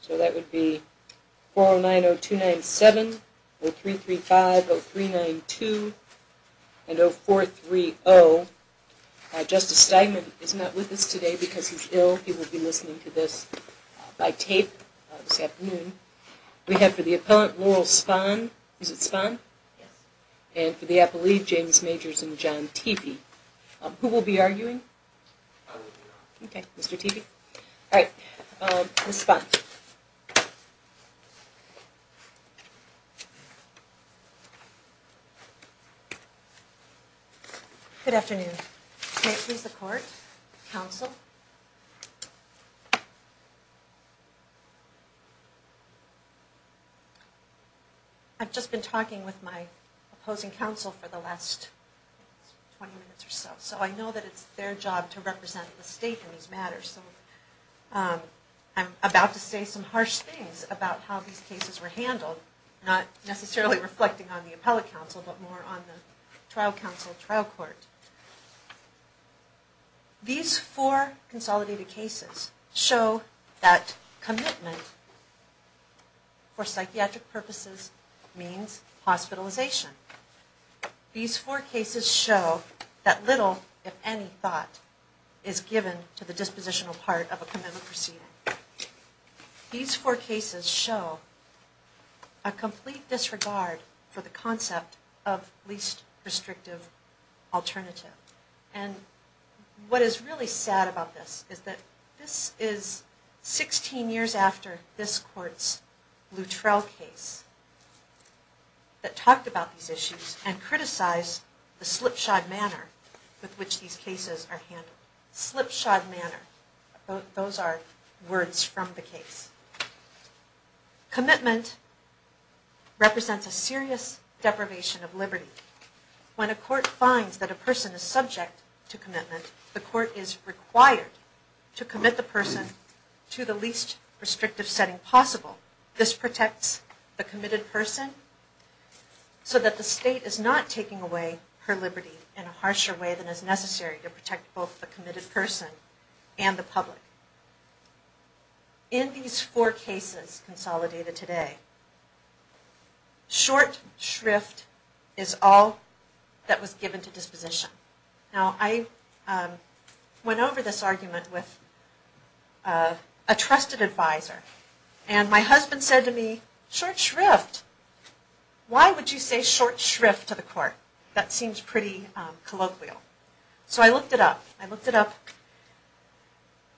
So that would be 409-0297, 0335, 0392, and 0430. Justice Steinman is not with us today because he's ill. He will be listening to this by tape this afternoon. We have for the appellant, Laurel Spahn. Is it Spahn? Yes. And for the appellee, James Majorson. Who will be arguing? I will be arguing. Okay, Mr. Tepe. All right. Ms. Spahn. Good afternoon. May it please the court, counsel. I've just been talking with my opposing counsel for the last 20 minutes or so. So I know that it's their job to represent the state in these matters. So I'm about to say some harsh things about how these cases were handled, not necessarily reflecting on the appellate counsel, but more on the trial counsel trial court. These four consolidated cases show that commitment for psychiatric purposes means hospitalization. These four cases show that little, if any, thought is given to the dispositional part of a commitment proceeding. These four cases show a complete disregard for the concept of least restrictive alternative. And what is really sad about this is that this is 16 years after this court's Luttrell case that talked about these issues and criticized the slipshod manner with which these cases are handled. Slipshod manner. Those are words from the case. Commitment represents a serious deprivation of liberty. When a court finds that a person is subject to commitment, the court is required to commit the person to the least restrictive setting possible. This protects the committed person so that the state is not taking away her liberty in a harsher way than is necessary to protect both the committed person and the public. In these four cases consolidated today, short shrift is all that was given to disposition. Now I went over this argument with a trusted advisor and my husband said to me, Why would you say short shrift to the court? That seems pretty colloquial. So I looked it up.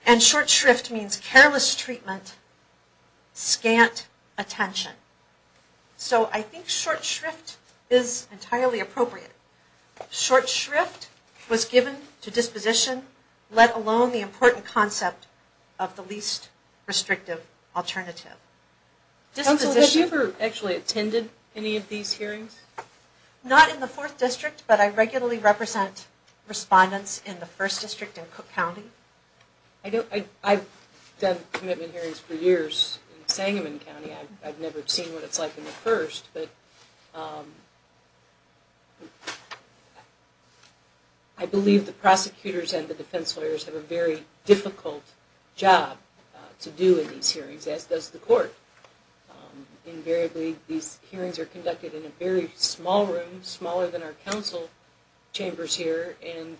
And short shrift means careless treatment, scant attention. So I think short shrift is entirely appropriate. Short shrift was given to disposition, let alone the important concept of the least restrictive alternative. Counsel, have you ever actually attended any of these hearings? Not in the fourth district, but I regularly represent respondents in the first district in Cook County. I've done commitment hearings for years in Sangamon County. I've never seen what it's like in the first. I believe the prosecutors and the defense lawyers have a very difficult job to do in these hearings, as does the court. Invariably, these hearings are conducted in a very small room, smaller than our council chambers here, and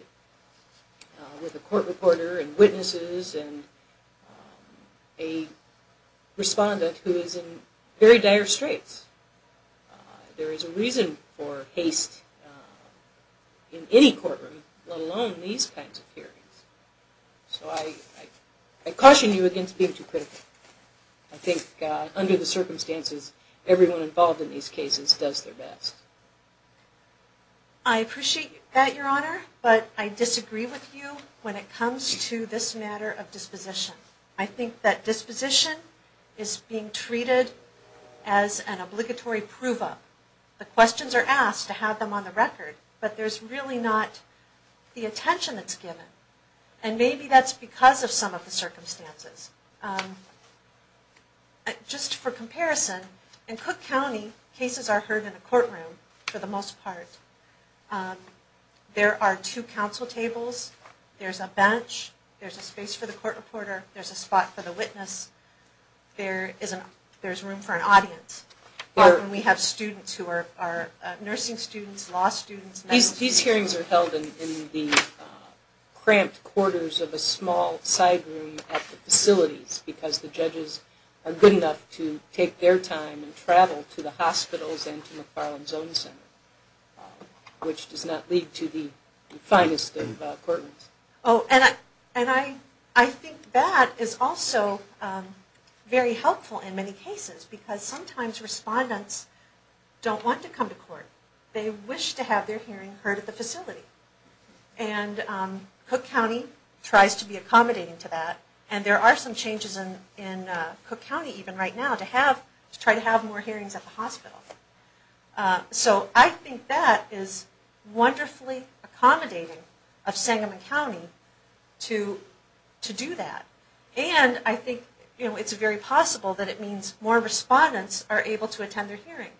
with a court reporter and witnesses and a respondent who is in very dire straits. There is a reason for haste in any courtroom, let alone these kinds of hearings. So I caution you against being too critical. I think under the circumstances, everyone involved in these cases does their best. I appreciate that, Your Honor, but I disagree with you when it comes to this matter of disposition. I think that disposition is being treated as an obligatory prove-up. The questions are asked to have them on the record, but there's really not the attention that's given. And maybe that's because of some of the circumstances. Just for comparison, in Cook County, cases are heard in a courtroom for the most part. There are two council tables, there's a bench, there's a space for the court reporter, there's a spot for the witness, there's room for an audience. We have students who are nursing students, law students. These hearings are held in the cramped quarters of a small side room at the facilities because the judges are good enough to take their time and travel to the hospitals and to McFarland Zone Center, which does not lead to the finest of courtrooms. Oh, and I think that is also very helpful in many cases, because sometimes respondents don't want to come to court. They wish to have their hearing heard at the facility. And Cook County tries to be accommodating to that, and there are some changes in Cook County even right now to try to have more hearings at the hospital. So I think that is wonderfully accommodating of Sangamon County to do that. And I think it's very possible that it means more respondents are able to attend their hearing.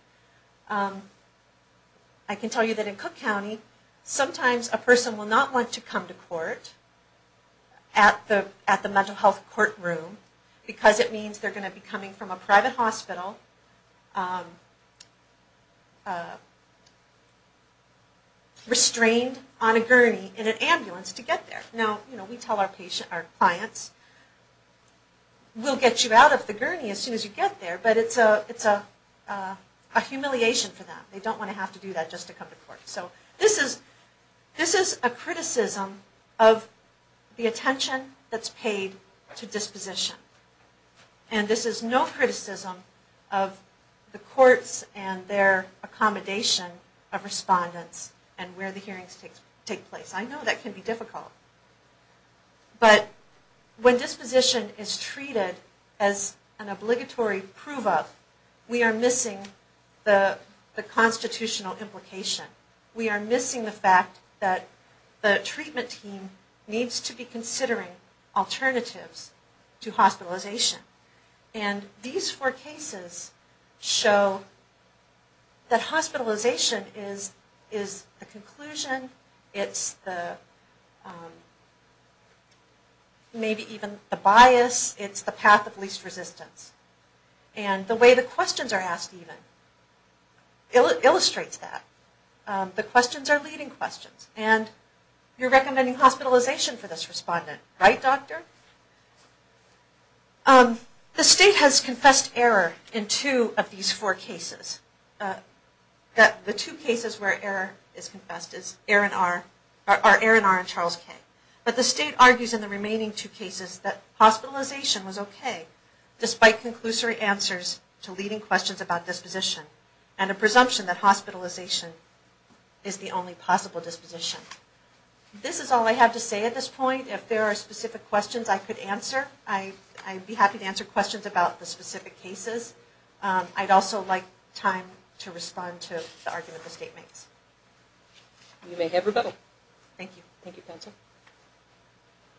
I can tell you that in Cook County, sometimes a person will not want to come to court at the mental health courtroom because it means they're going to be coming from a private hospital restrained on a gurney in an ambulance to get there. Now, we tell our clients, we'll get you out of the gurney as soon as you get there, but it's a humiliation for them. They don't want to have to do that just to come to court. So this is a criticism of the attention that's paid to disposition. And this is no criticism of the courts and their accommodation of respondents and where the hearings take place. I know that can be difficult. But when disposition is treated as an obligatory prove-up, we are missing the constitutional implication. We are missing the fact that the treatment team needs to be considering alternatives to hospitalization. And these four cases show that hospitalization is the conclusion, it's maybe even the bias, it's the path of least resistance. And the way the questions are asked even illustrates that. The questions are leading questions. And you're recommending hospitalization for this respondent, right doctor? The state has confessed error in two of these four cases. The two cases where error is confessed are Aaron R. and Charles K. But the state argues in the remaining two cases that hospitalization was okay, despite conclusory answers to leading questions about disposition and a presumption that hospitalization is the only possible disposition. This is all I have to say at this point. If there are specific questions I could answer, I'd be happy to answer questions about the specific cases. I'd also like time to respond to the argument the state makes. You may have rebuttal. Thank you. Thank you, counsel.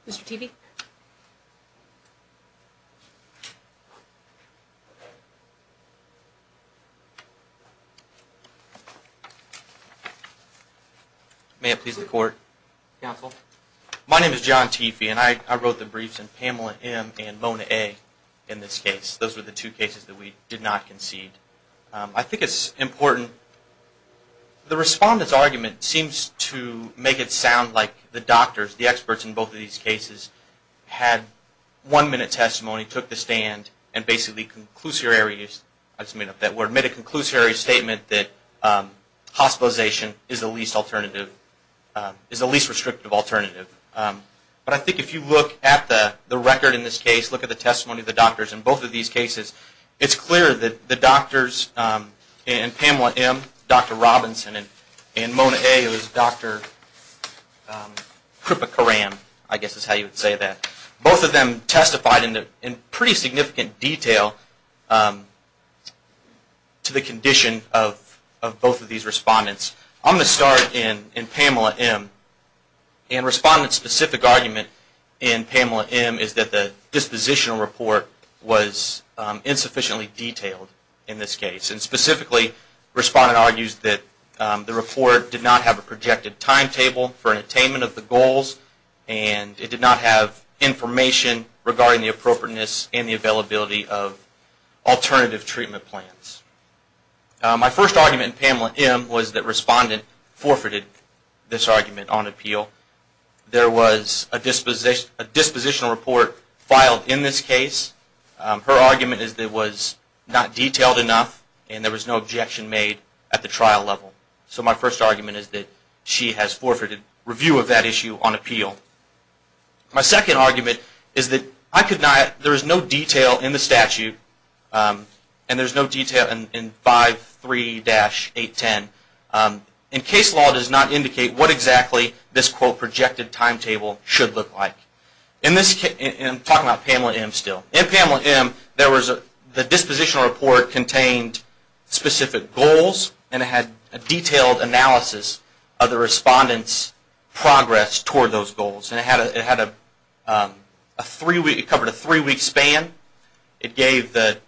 Mr. Teefee? May it please the court? Counsel? My name is John Teefee, and I wrote the briefs in Pamela M. and Mona A. in this case. Those were the two cases that we did not concede. I think it's important. The respondent's argument seems to make it sound like the doctors, the experts in both of these cases, had one-minute testimony, took the stand, and basically made a conclusory statement that hospitalization is the least alternative, is the least restrictive alternative. But I think if you look at the record in this case, look at the testimony of the doctors in both of these cases, it's clear that the doctors in Pamela M., Dr. Robinson, and Mona A., it was Dr. Kripakaran, I guess is how you would say that, both of them testified in pretty significant detail to the condition of both of these respondents. I'm going to start in Pamela M., and the respondent's specific argument in Pamela M. is that the dispositional report was insufficiently detailed in this case. Specifically, the respondent argues that the report did not have a projected timetable for attainment of the goals, and it did not have information regarding the appropriateness and the availability of alternative treatment plans. My first argument in Pamela M. was that the respondent forfeited this argument on appeal. There was a dispositional report filed in this case. Her argument is that it was not detailed enough, and there was no objection made at the trial level. So my first argument is that she has forfeited review of that issue on appeal. My second argument is that there is no detail in the statute, and there is no detail in 5.3-810. Case law does not indicate what exactly this projected timetable should look like. I'm talking about Pamela M. still. In Pamela M., the dispositional report contained specific goals, and it had a detailed analysis of the respondent's progress toward those goals. It covered a three-week span. It gave the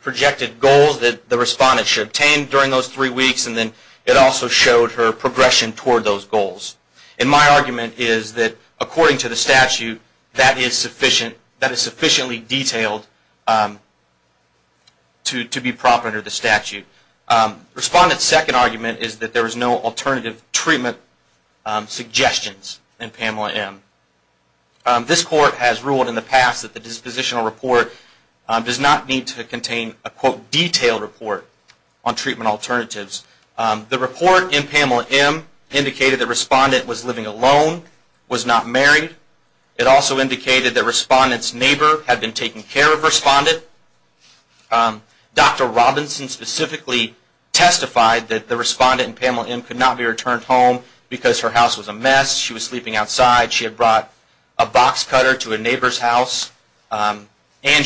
projected goals that the respondent should attain during those three weeks, and then it also showed her progression toward those goals. And my argument is that, according to the statute, that is sufficiently detailed to be proper under the statute. Respondent's second argument is that there was no alternative treatment suggestions in Pamela M. This Court has ruled in the past that the dispositional report does not need to contain a quote, detailed report on treatment alternatives. The report in Pamela M. indicated that the respondent was living alone, was not married. It also indicated that the respondent's neighbor had been taking care of the respondent. Dr. Robinson specifically testified that the respondent in Pamela M. could not be returned home because her house was a mess, she was sleeping outside, she had brought a box cutter to a neighbor's house, and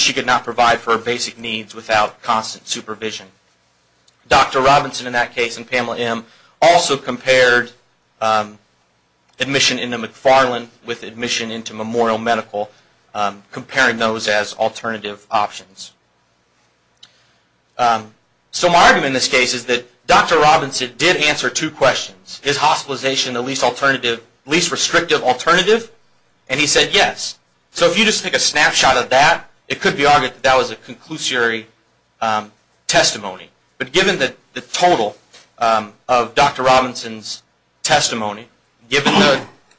she could not provide for her basic needs without constant supervision. Dr. Robinson in that case in Pamela M. also compared admission into McFarland with admission into Memorial Medical, comparing those as alternative options. So my argument in this case is that Dr. Robinson did answer two questions. Is hospitalization the least alternative, least restrictive alternative? And he said yes. So if you just take a snapshot of that, it could be argued that that was a conclusory testimony. But given the total of Dr. Robinson's testimony, given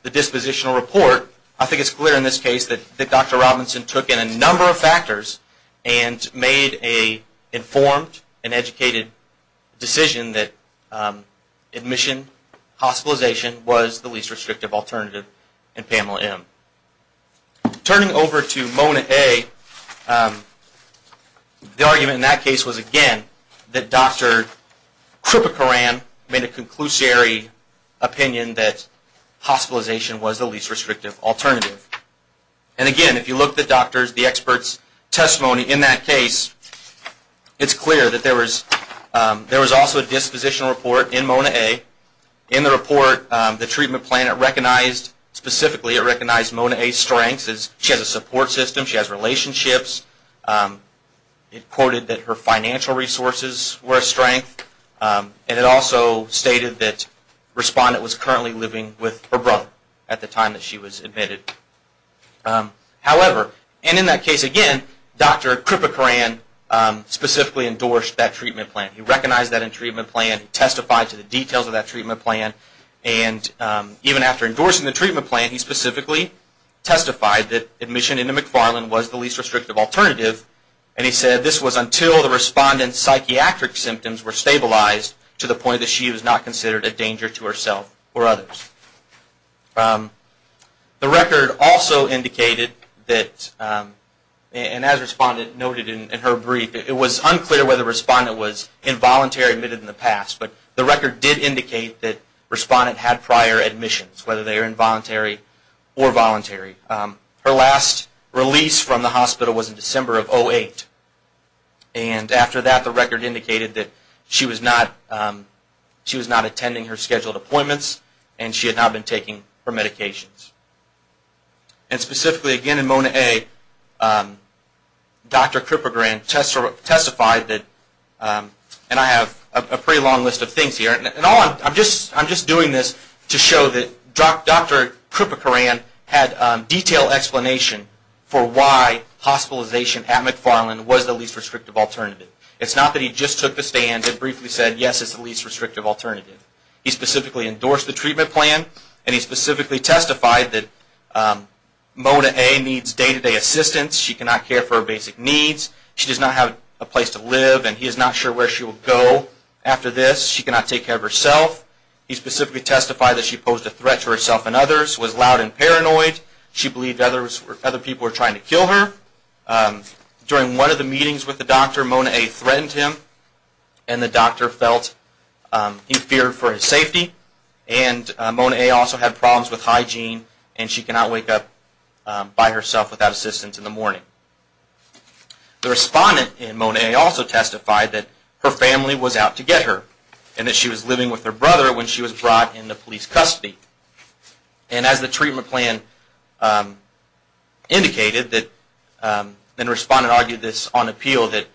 the dispositional report, I think it's clear in this case that Dr. Robinson took in a number of factors and made an informed and educated decision that admission, hospitalization was the least restrictive alternative in Pamela M. Turning over to Mona A., the argument in that case was again that Dr. Kripakaran made a conclusory opinion that hospitalization was the least restrictive alternative. And again, if you look at the doctor's, the expert's testimony in that case, it's clear that there was also a dispositional report in Mona A. In the report, the treatment plan, it recognized, specifically it recognized Mona A.'s strengths. She has a support system. She has relationships. It quoted that her financial resources were a strength. And it also stated that the respondent was currently living with her brother at the time that she was admitted. However, and in that case again, Dr. Kripakaran specifically endorsed that treatment plan. He recognized that in the treatment plan, testified to the details of that treatment plan, and even after endorsing the treatment plan, he specifically testified that admission into McFarland was the least restrictive alternative. And he said this was until the respondent's psychiatric symptoms were stabilized to the point that she was not considered a danger to herself or others. The record also indicated that, and as the respondent noted in her brief, it was unclear whether the respondent was involuntary admitted in the past. But the record did indicate that the respondent had prior admissions, whether they were involuntary or voluntary. Her last release from the hospital was in December of 2008. And after that, the record indicated that she was not attending her scheduled appointments, and she had not been taking her medications. And specifically again in Mona A., Dr. Kripakaran testified that, and I have a pretty long list of things here. And I'm just doing this to show that Dr. Kripakaran had detailed explanation for why hospitalization at McFarland was the least restrictive alternative. It's not that he just took the stand and briefly said, yes, it's the least restrictive alternative. He specifically endorsed the treatment plan, and he specifically testified that Mona A. needs day-to-day assistance. She cannot care for her basic needs. She does not have a place to live, and he is not sure where she will go after this. She cannot take care of herself. He specifically testified that she posed a threat to herself and others, was loud and paranoid. She believed other people were trying to kill her. During one of the meetings with the doctor, Mona A. threatened him, and the doctor felt he feared for his safety. And Mona A. also had problems with hygiene, and she cannot wake up by herself without assistance in the morning. The respondent in Mona A. also testified that her family was out to get her, and that she was living with her brother when she was brought into police custody. And as the treatment plan indicated, the respondent argued this on appeal, that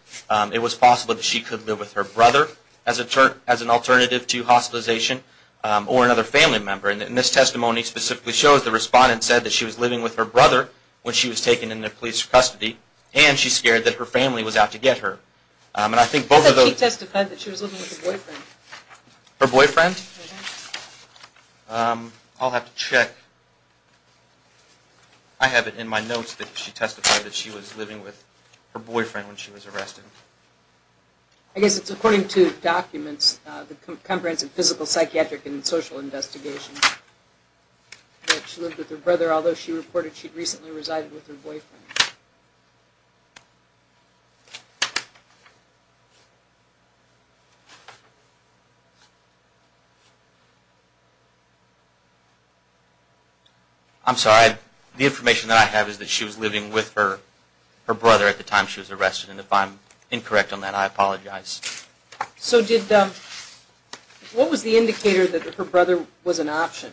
it was possible that she could live with her brother as an alternative to hospitalization or another family member. And this testimony specifically shows the respondent said that she was living with her brother when she was taken into police custody, and she's scared that her family was out to get her. And I think both of those... He testified that she was living with her boyfriend. Her boyfriend? I'll have to check. I have it in my notes that she testified that she was living with her boyfriend when she was arrested. I guess it's according to documents, the comprehensive physical, psychiatric, and social investigation, that she lived with her brother, although she reported she'd recently resided with her boyfriend. I'm sorry. The information that I have is that she was living with her brother at the time she was arrested, and if I'm incorrect on that, I apologize. So what was the indicator that her brother was an option?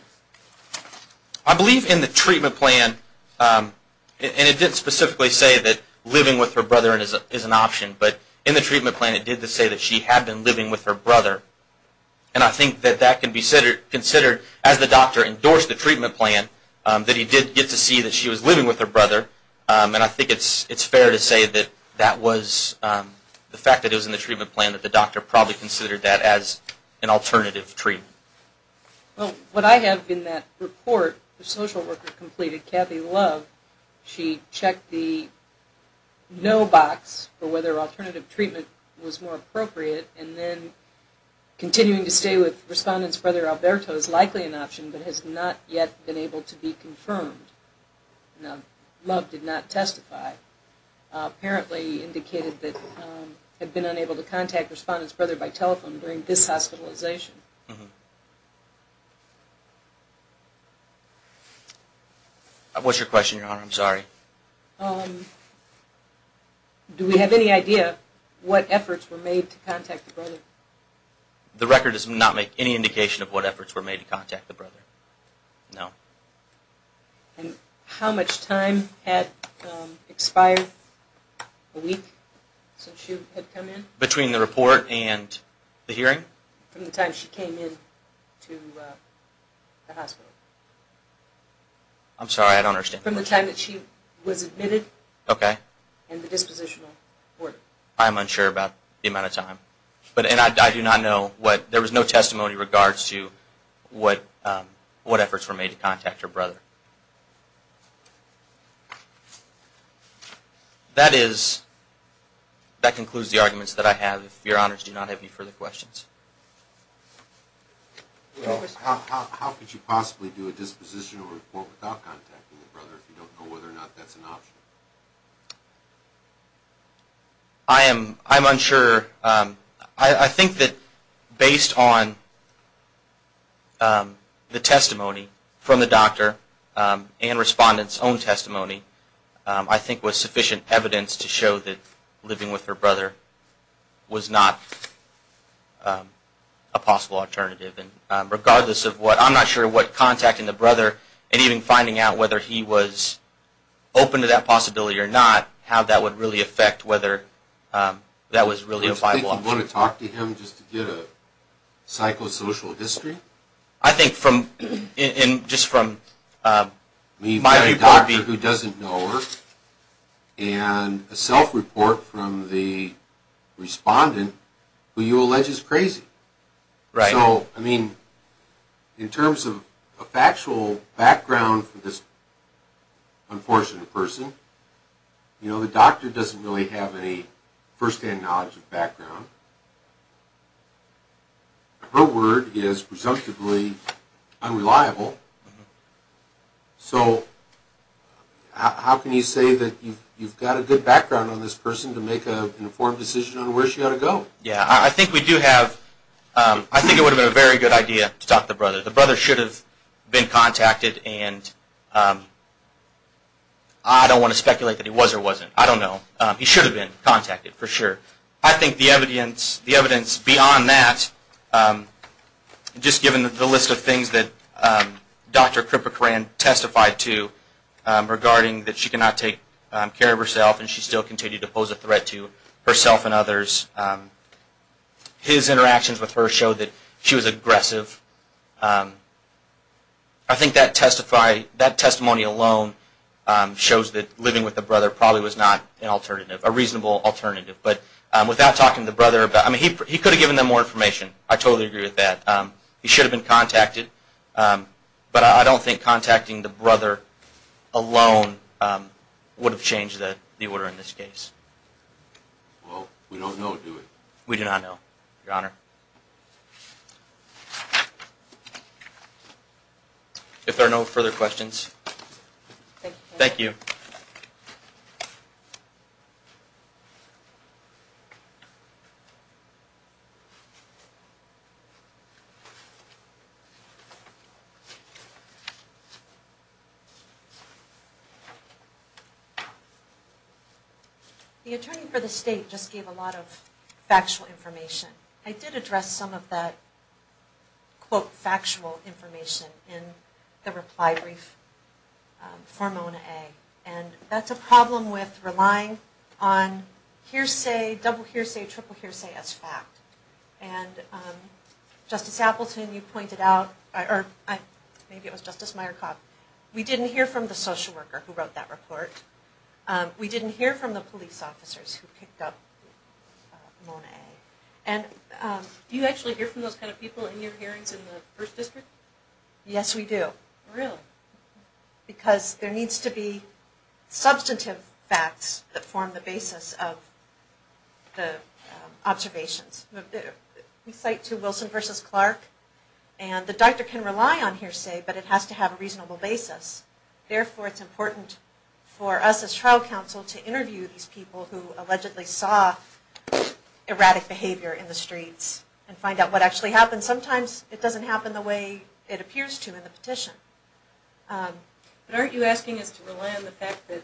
I believe in the treatment plan, and it didn't specifically say that living with her brother is an option, but in the treatment plan it did say that she had been living with her brother, and I think that that can be considered, as the doctor endorsed the treatment plan, that he did get to see that she was living with her brother, and I think it's fair to say that that was, the fact that it was in the treatment plan, that the doctor probably considered that as an alternative treatment. Well, what I have in that report, the social worker completed, Kathy Love, she checked the no box for whether alternative treatment was more appropriate, and then continuing to stay with respondents for their Alberto is likely an option, but has not yet been able to be confirmed. Now, Love did not testify. Apparently, indicated that had been unable to contact respondents' brother by telephone during this hospitalization. What's your question, Your Honor? I'm sorry. Do we have any idea what efforts were made to contact the brother? The record does not make any indication of what efforts were made to contact the brother. No. And how much time had expired a week since she had come in? Between the report and the hearing? From the time she came in to the hospital. I'm sorry, I don't understand. From the time that she was admitted and the dispositional order. I'm unsure about the amount of time. And I do not know what, there was no testimony in regards to what efforts were made to contact her brother. That is, that concludes the arguments that I have. If Your Honors do not have any further questions. How could you possibly do a dispositional report without contacting the brother if you don't know whether or not that's an option? I am unsure. I think that based on the testimony from the doctor and respondents' own testimony, I think was sufficient evidence to show that living with her brother was not a possible alternative. Regardless of what, I'm not sure what contacting the brother, and even finding out whether he was open to that possibility or not, how that would really affect whether that was really a viable option. Do you want to talk to him just to get a psychosocial history? I think from, just from my report. We've got a doctor who doesn't know her, and a self-report from the respondent who you allege is crazy. Right. So, I mean, in terms of actual background for this unfortunate person, you know, the doctor doesn't really have any first-hand knowledge of background. Her word is presumptively unreliable. So, how can you say that you've got a good background on this person to make an informed decision on where she ought to go? Yeah. I think we do have, I think it would have been a very good idea to talk to the brother. The brother should have been contacted, and I don't want to speculate that he was or wasn't. I don't know. He should have been contacted, for sure. I think the evidence beyond that, just given the list of things that Dr. Kripakaran testified to regarding that she cannot take care of herself, and she still continued to pose a threat to herself and others. His interactions with her showed that she was aggressive. I think that testimony alone shows that living with the brother probably was not an alternative, a reasonable alternative. But without talking to the brother, I mean, he could have given them more information. I totally agree with that. He should have been contacted. But I don't think contacting the brother alone would have changed the order in this case. Well, we don't know, do we? We do not know, Your Honor. If there are no further questions. Thank you. Thank you. Thank you. The attorney for the state just gave a lot of factual information. I did address some of that, quote, factual information in the reply brief for Mona A. And that's a problem with relying on hearsay, double hearsay, triple hearsay as fact. And Justice Appleton, you pointed out, or maybe it was Justice Meyerkoff, we didn't hear from the social worker who wrote that report. We didn't hear from the police officers who picked up Mona A. And do you actually hear from those kind of people in your hearings in the First District? Yes, we do. Really? Because there needs to be substantive facts that form the basis of the observations. We cite to Wilson v. Clark, and the doctor can rely on hearsay, but it has to have a reasonable basis. Therefore, it's important for us as trial counsel to interview these people who allegedly saw erratic behavior in the streets and find out what actually happened. And sometimes it doesn't happen the way it appears to in the petition. But aren't you asking us to rely on the fact that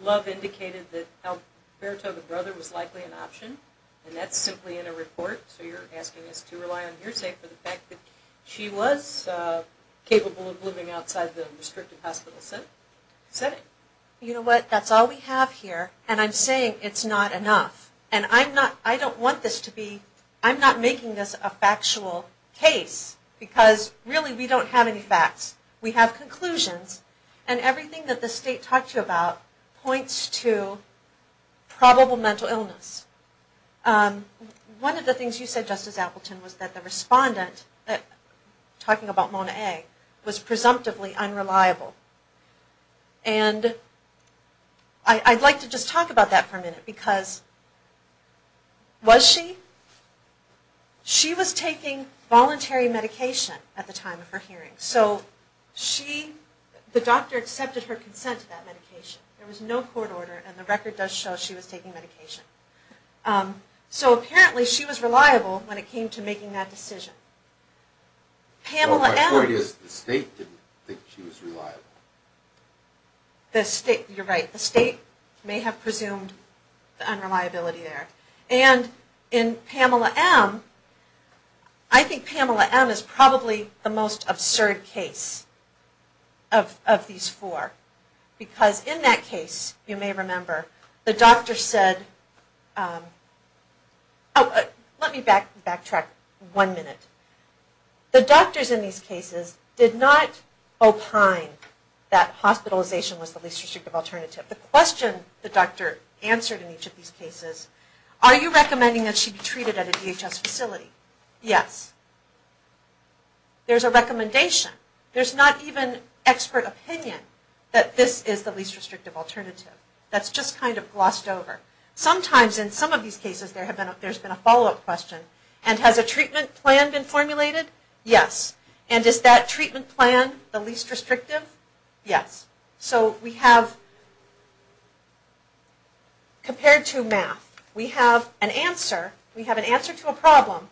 Love indicated that Alberto, the brother, was likely an option? And that's simply in a report, so you're asking us to rely on hearsay for the fact that she was capable of living outside the restricted hospital setting? You know what? That's all we have here, and I'm saying it's not enough. And I'm not, I don't want this to be, I'm not making this a factual case, because really we don't have any facts. We have conclusions, and everything that the state talked to you about points to probable mental illness. One of the things you said, Justice Appleton, was that the respondent, talking about Mona A., was presumptively unreliable. And I'd like to just talk about that for a minute, because was she? She was taking voluntary medication at the time of her hearing. So she, the doctor accepted her consent to that medication. There was no court order, and the record does show she was taking medication. So apparently she was reliable when it came to making that decision. My point is, the state didn't think she was reliable. You're right. The state may have presumed the unreliability there. And in Pamela M., I think Pamela M. is probably the most absurd case of these four. Because in that case, you may remember, the doctor said, let me back track one minute. The doctors in these cases did not opine that hospitalization was the least restrictive alternative. The question the doctor answered in each of these cases, are you recommending that she be treated at a DHS facility? Yes. There's a recommendation. There's not even expert opinion that this is the least restrictive alternative. That's just kind of glossed over. Sometimes in some of these cases there's been a follow-up question. And has a treatment plan been formulated? Yes. And is that treatment plan the least restrictive? Yes. So we have, compared to math, we have an answer to a problem.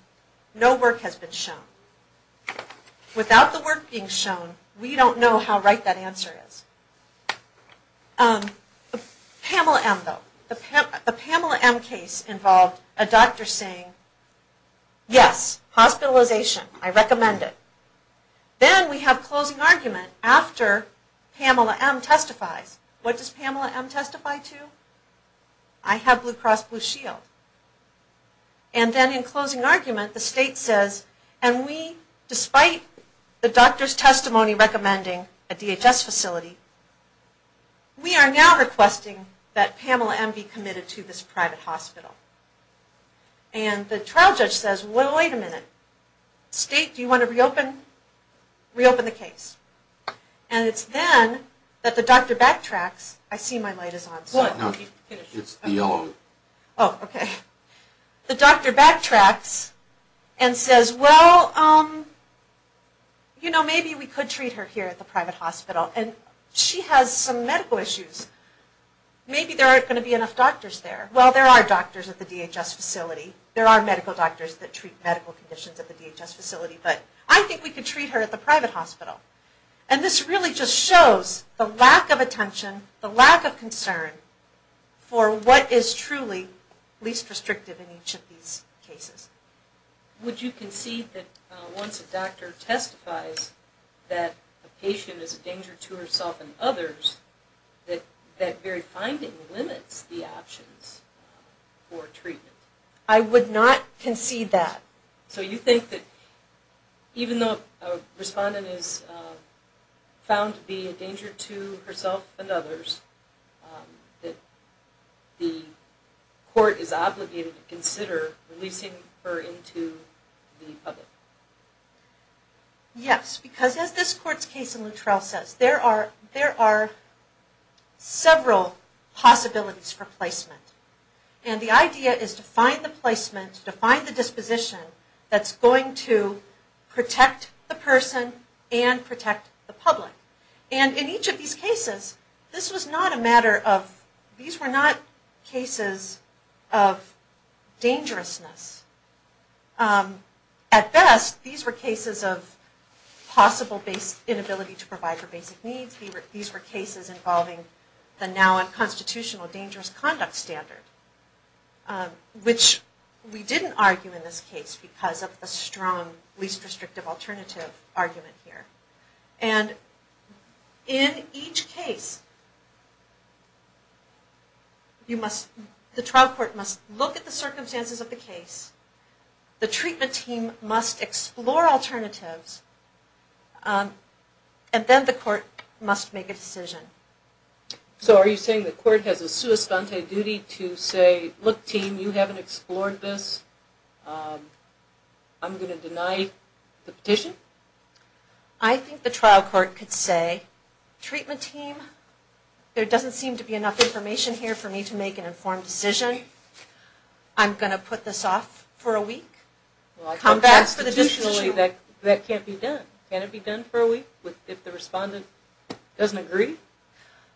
No work has been shown. Without the work being shown, we don't know how right that answer is. Pamela M., though, the Pamela M. case involved a doctor saying, yes, hospitalization, I recommend it. Then we have closing argument after Pamela M. testifies. What does Pamela M. testify to? I have Blue Cross Blue Shield. And then in closing argument, the state says, and we, despite the doctor's testimony recommending a DHS facility, we are now requesting that Pamela M. be committed to this private hospital. And the trial judge says, well, wait a minute. State, do you want to reopen the case? And it's then that the doctor backtracks. I see my light is on. No, it's the yellow. Oh, okay. The doctor backtracks and says, well, you know, maybe we could treat her here at the private hospital. And she has some medical issues. Maybe there aren't going to be enough doctors there. Well, there are doctors at the DHS facility. There are medical doctors that treat medical conditions at the DHS facility. But I think we could treat her at the private hospital. And this really just shows the lack of attention, the lack of concern, for what is truly least restrictive in each of these cases. Would you concede that once a doctor testifies that a patient is a danger to herself and others, that that very finding limits the options for treatment? I would not concede that. So you think that even though a respondent is found to be a danger to herself and others, that the court is obligated to consider releasing her into the public? Yes, because as this court's case in Luttrell says, there are several possibilities for placement. And the idea is to find the placement, to find the disposition that's going to protect the person and protect the public. And in each of these cases, this was not a matter of, these were not cases of dangerousness. At best, these were cases of possible inability to provide for basic needs. These were cases involving the now unconstitutional dangerous conduct standard, which we didn't argue in this case because of the strong least restrictive alternative argument here. And in each case, the trial court must look at the circumstances of the case. The treatment team must explore alternatives. And then the court must make a decision. So are you saying the court has a sua sponte duty to say, look team, you haven't explored this, I'm going to deny the petition? I think the trial court could say, treatment team, there doesn't seem to be enough information here for me to make an informed decision. I'm going to put this off for a week. Come back for the petition. That can't be done. Can't it be done for a week if the respondent doesn't agree?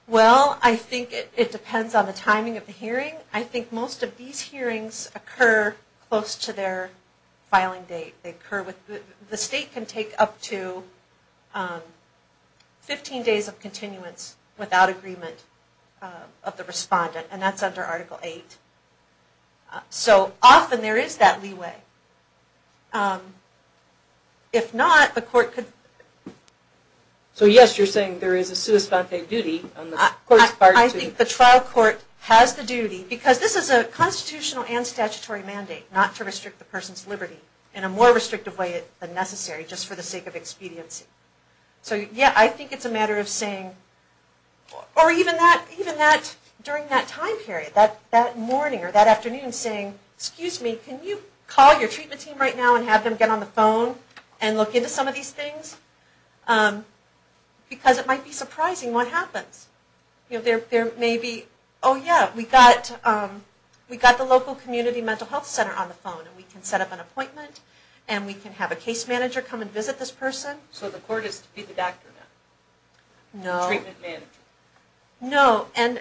Well, I think it depends on the timing of the hearing. I think most of these hearings occur close to their filing date. The state can take up to 15 days of continuance without agreement of the respondent, and that's under Article 8. So often there is that leeway. If not, the court could... So yes, you're saying there is a sua sponte duty on the court's part to... I think the trial court has the duty, because this is a constitutional and more restrictive way than necessary, just for the sake of expediency. So yes, I think it's a matter of saying... Or even that, during that time period, that morning or that afternoon, saying, excuse me, can you call your treatment team right now and have them get on the phone and look into some of these things? Because it might be surprising what happens. There may be, oh yes, we got the local community mental health center on the phone, and we can set up an appointment, and we can have a case manager come and visit this person. So the court is to be the doctor then? No. The treatment manager? No. And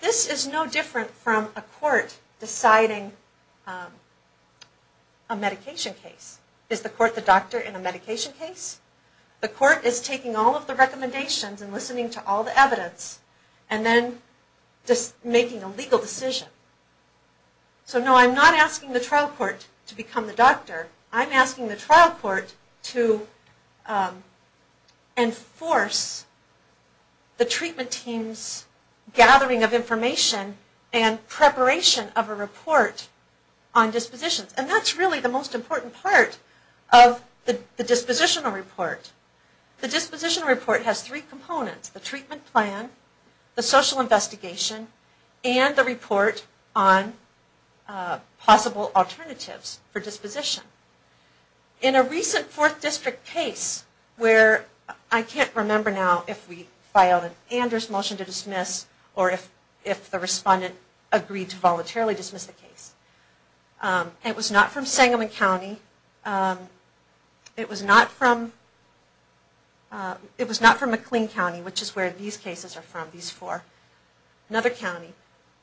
this is no different from a court deciding a medication case. Is the court the doctor in a medication case? The court is taking all of the recommendations and listening to all the evidence, and then making a legal decision. So no, I'm not asking the trial court to become the doctor. I'm asking the trial court to enforce the treatment team's gathering of information and preparation of a report on dispositions. And that's really the most important part of the dispositional report. The dispositional report has three components. The treatment plan, the social investigation, and the report on possible alternatives for disposition. In a recent 4th District case where I can't remember now if we filed an Anders motion to dismiss or if the respondent agreed to voluntarily dismiss the case. It was not from Sangamon County. It was not from McLean County, which is where these cases are from, these four. Another county.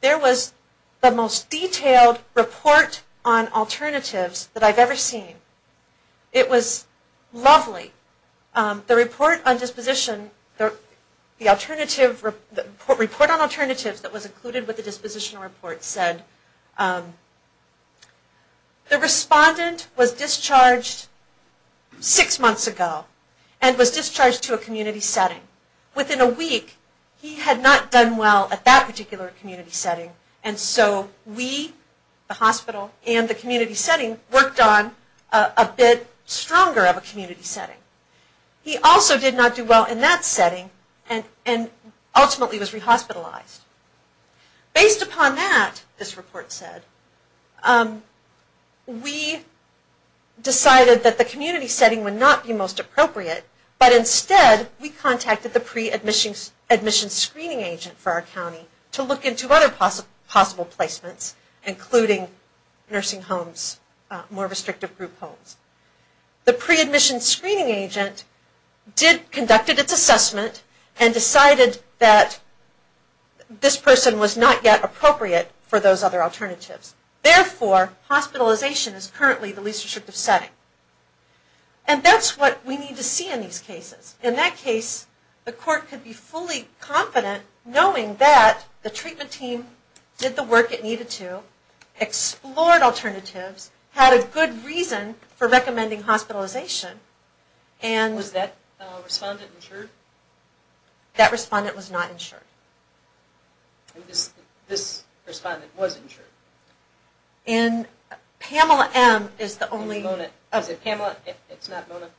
There was the most detailed report on alternatives that I've ever seen. It was lovely. The report on disposition, the report on alternatives that was included with the dispositional report said the respondent was discharged six months ago and was discharged to a community setting. Within a week he had not done well at that particular community setting, and so we, the hospital, and the community setting worked on a bit stronger of a community setting. He also did not do well in that setting and ultimately was re-hospitalized. Based upon that, this report said, we decided that the community setting would not be most appropriate, but instead we contacted the pre-admission screening agent for our county to look into other possible placements, including nursing homes, more restrictive group homes. The pre-admission screening agent conducted its assessment and decided that this person was not yet appropriate for those other alternatives. Therefore, hospitalization is currently the least restrictive setting. And that's what we need to see in these cases. In that case, the court could be fully confident knowing that the treatment team did the work it needed to, explored alternatives, had a good reason for recommending hospitalization. Was that respondent insured? That respondent was not insured. This respondent was insured? Pamela M is the only... Was it Mona?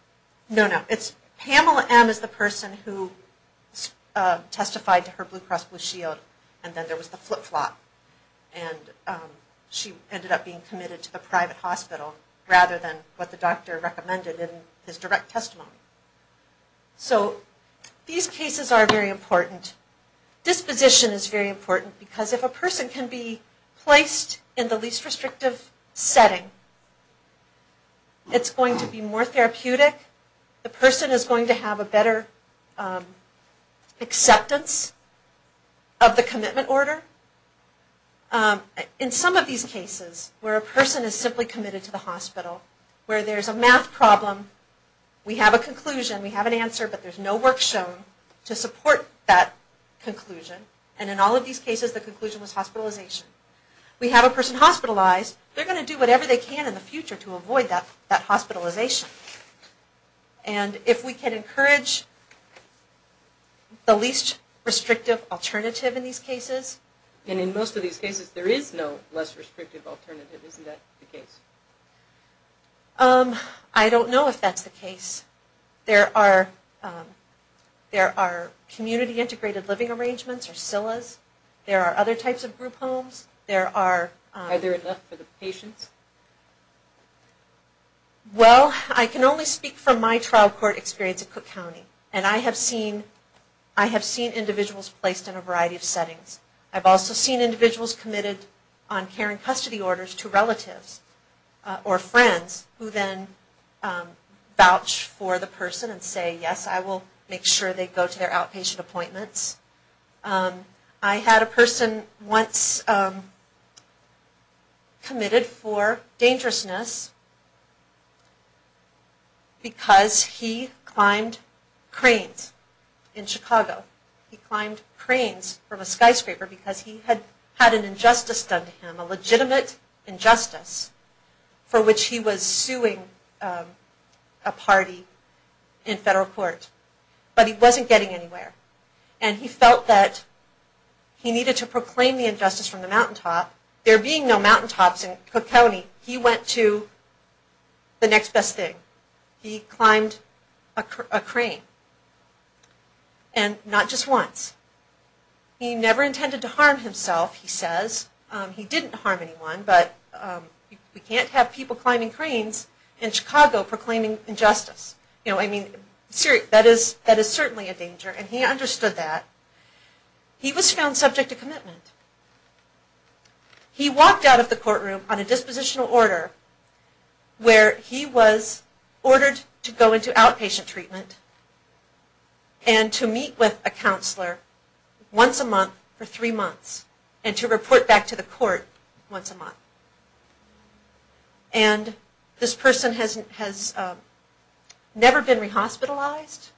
No, no. Pamela M is the person who testified to her Blue Cross Blue Shield, and then there was the flip-flop. And she ended up being committed to the private hospital rather than what the doctor recommended in his direct testimony. So these cases are very important. Disposition is very important because if a person can be placed in the least restrictive setting, it's going to be more therapeutic. The person is going to have a better acceptance of the commitment order. In some of these cases where a person is simply committed to the hospital, where there's a math problem, we have a conclusion, we have an answer, but there's no work shown to support that conclusion. And in all of these cases, the conclusion was hospitalization. We have a person hospitalized, they're going to do whatever they can in the future to avoid that hospitalization. And if we can encourage the least restrictive alternative in these cases... And in most of these cases, there is no less restrictive alternative. Isn't that the case? I don't know if that's the case. There are community-integrated living arrangements, or SILAs. There are other types of group homes. Are there enough for the patients? Well, I can only speak from my trial court experience at Cook County, and I have seen individuals placed in a variety of settings. I've also seen individuals committed on care and custody orders to relatives or friends who then vouch for the person and say, yes, I will make sure they go to their outpatient appointments. I had a person once committed for dangerousness because he climbed cranes in Chicago. He climbed cranes from a skyscraper because he had had an injustice done to him, a legitimate injustice for which he was suing a party in federal court. But he wasn't getting anywhere. And he felt that he needed to proclaim the injustice from the mountaintop. There being no mountaintops in Cook County, he went to the next best thing. He climbed a crane, and not just once. He never intended to harm himself, he says. He didn't harm anyone, but we can't have people climbing cranes in Chicago proclaiming injustice. You know, I mean, that is certainly a danger, and he understood that. He was found subject to commitment. He walked out of the courtroom on a dispositional order where he was ordered to go into outpatient treatment and to meet with a counselor once a month for three months and to report back to the court once a month. And this person has never been re-hospitalized,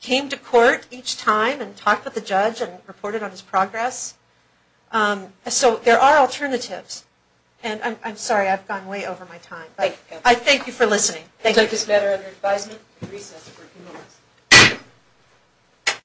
came to court each time and talked with the judge and reported on his progress. So there are alternatives. And I'm sorry, I've gone way over my time. I thank you for listening. Thank you. We'll take this matter under advisement and recess for a few minutes.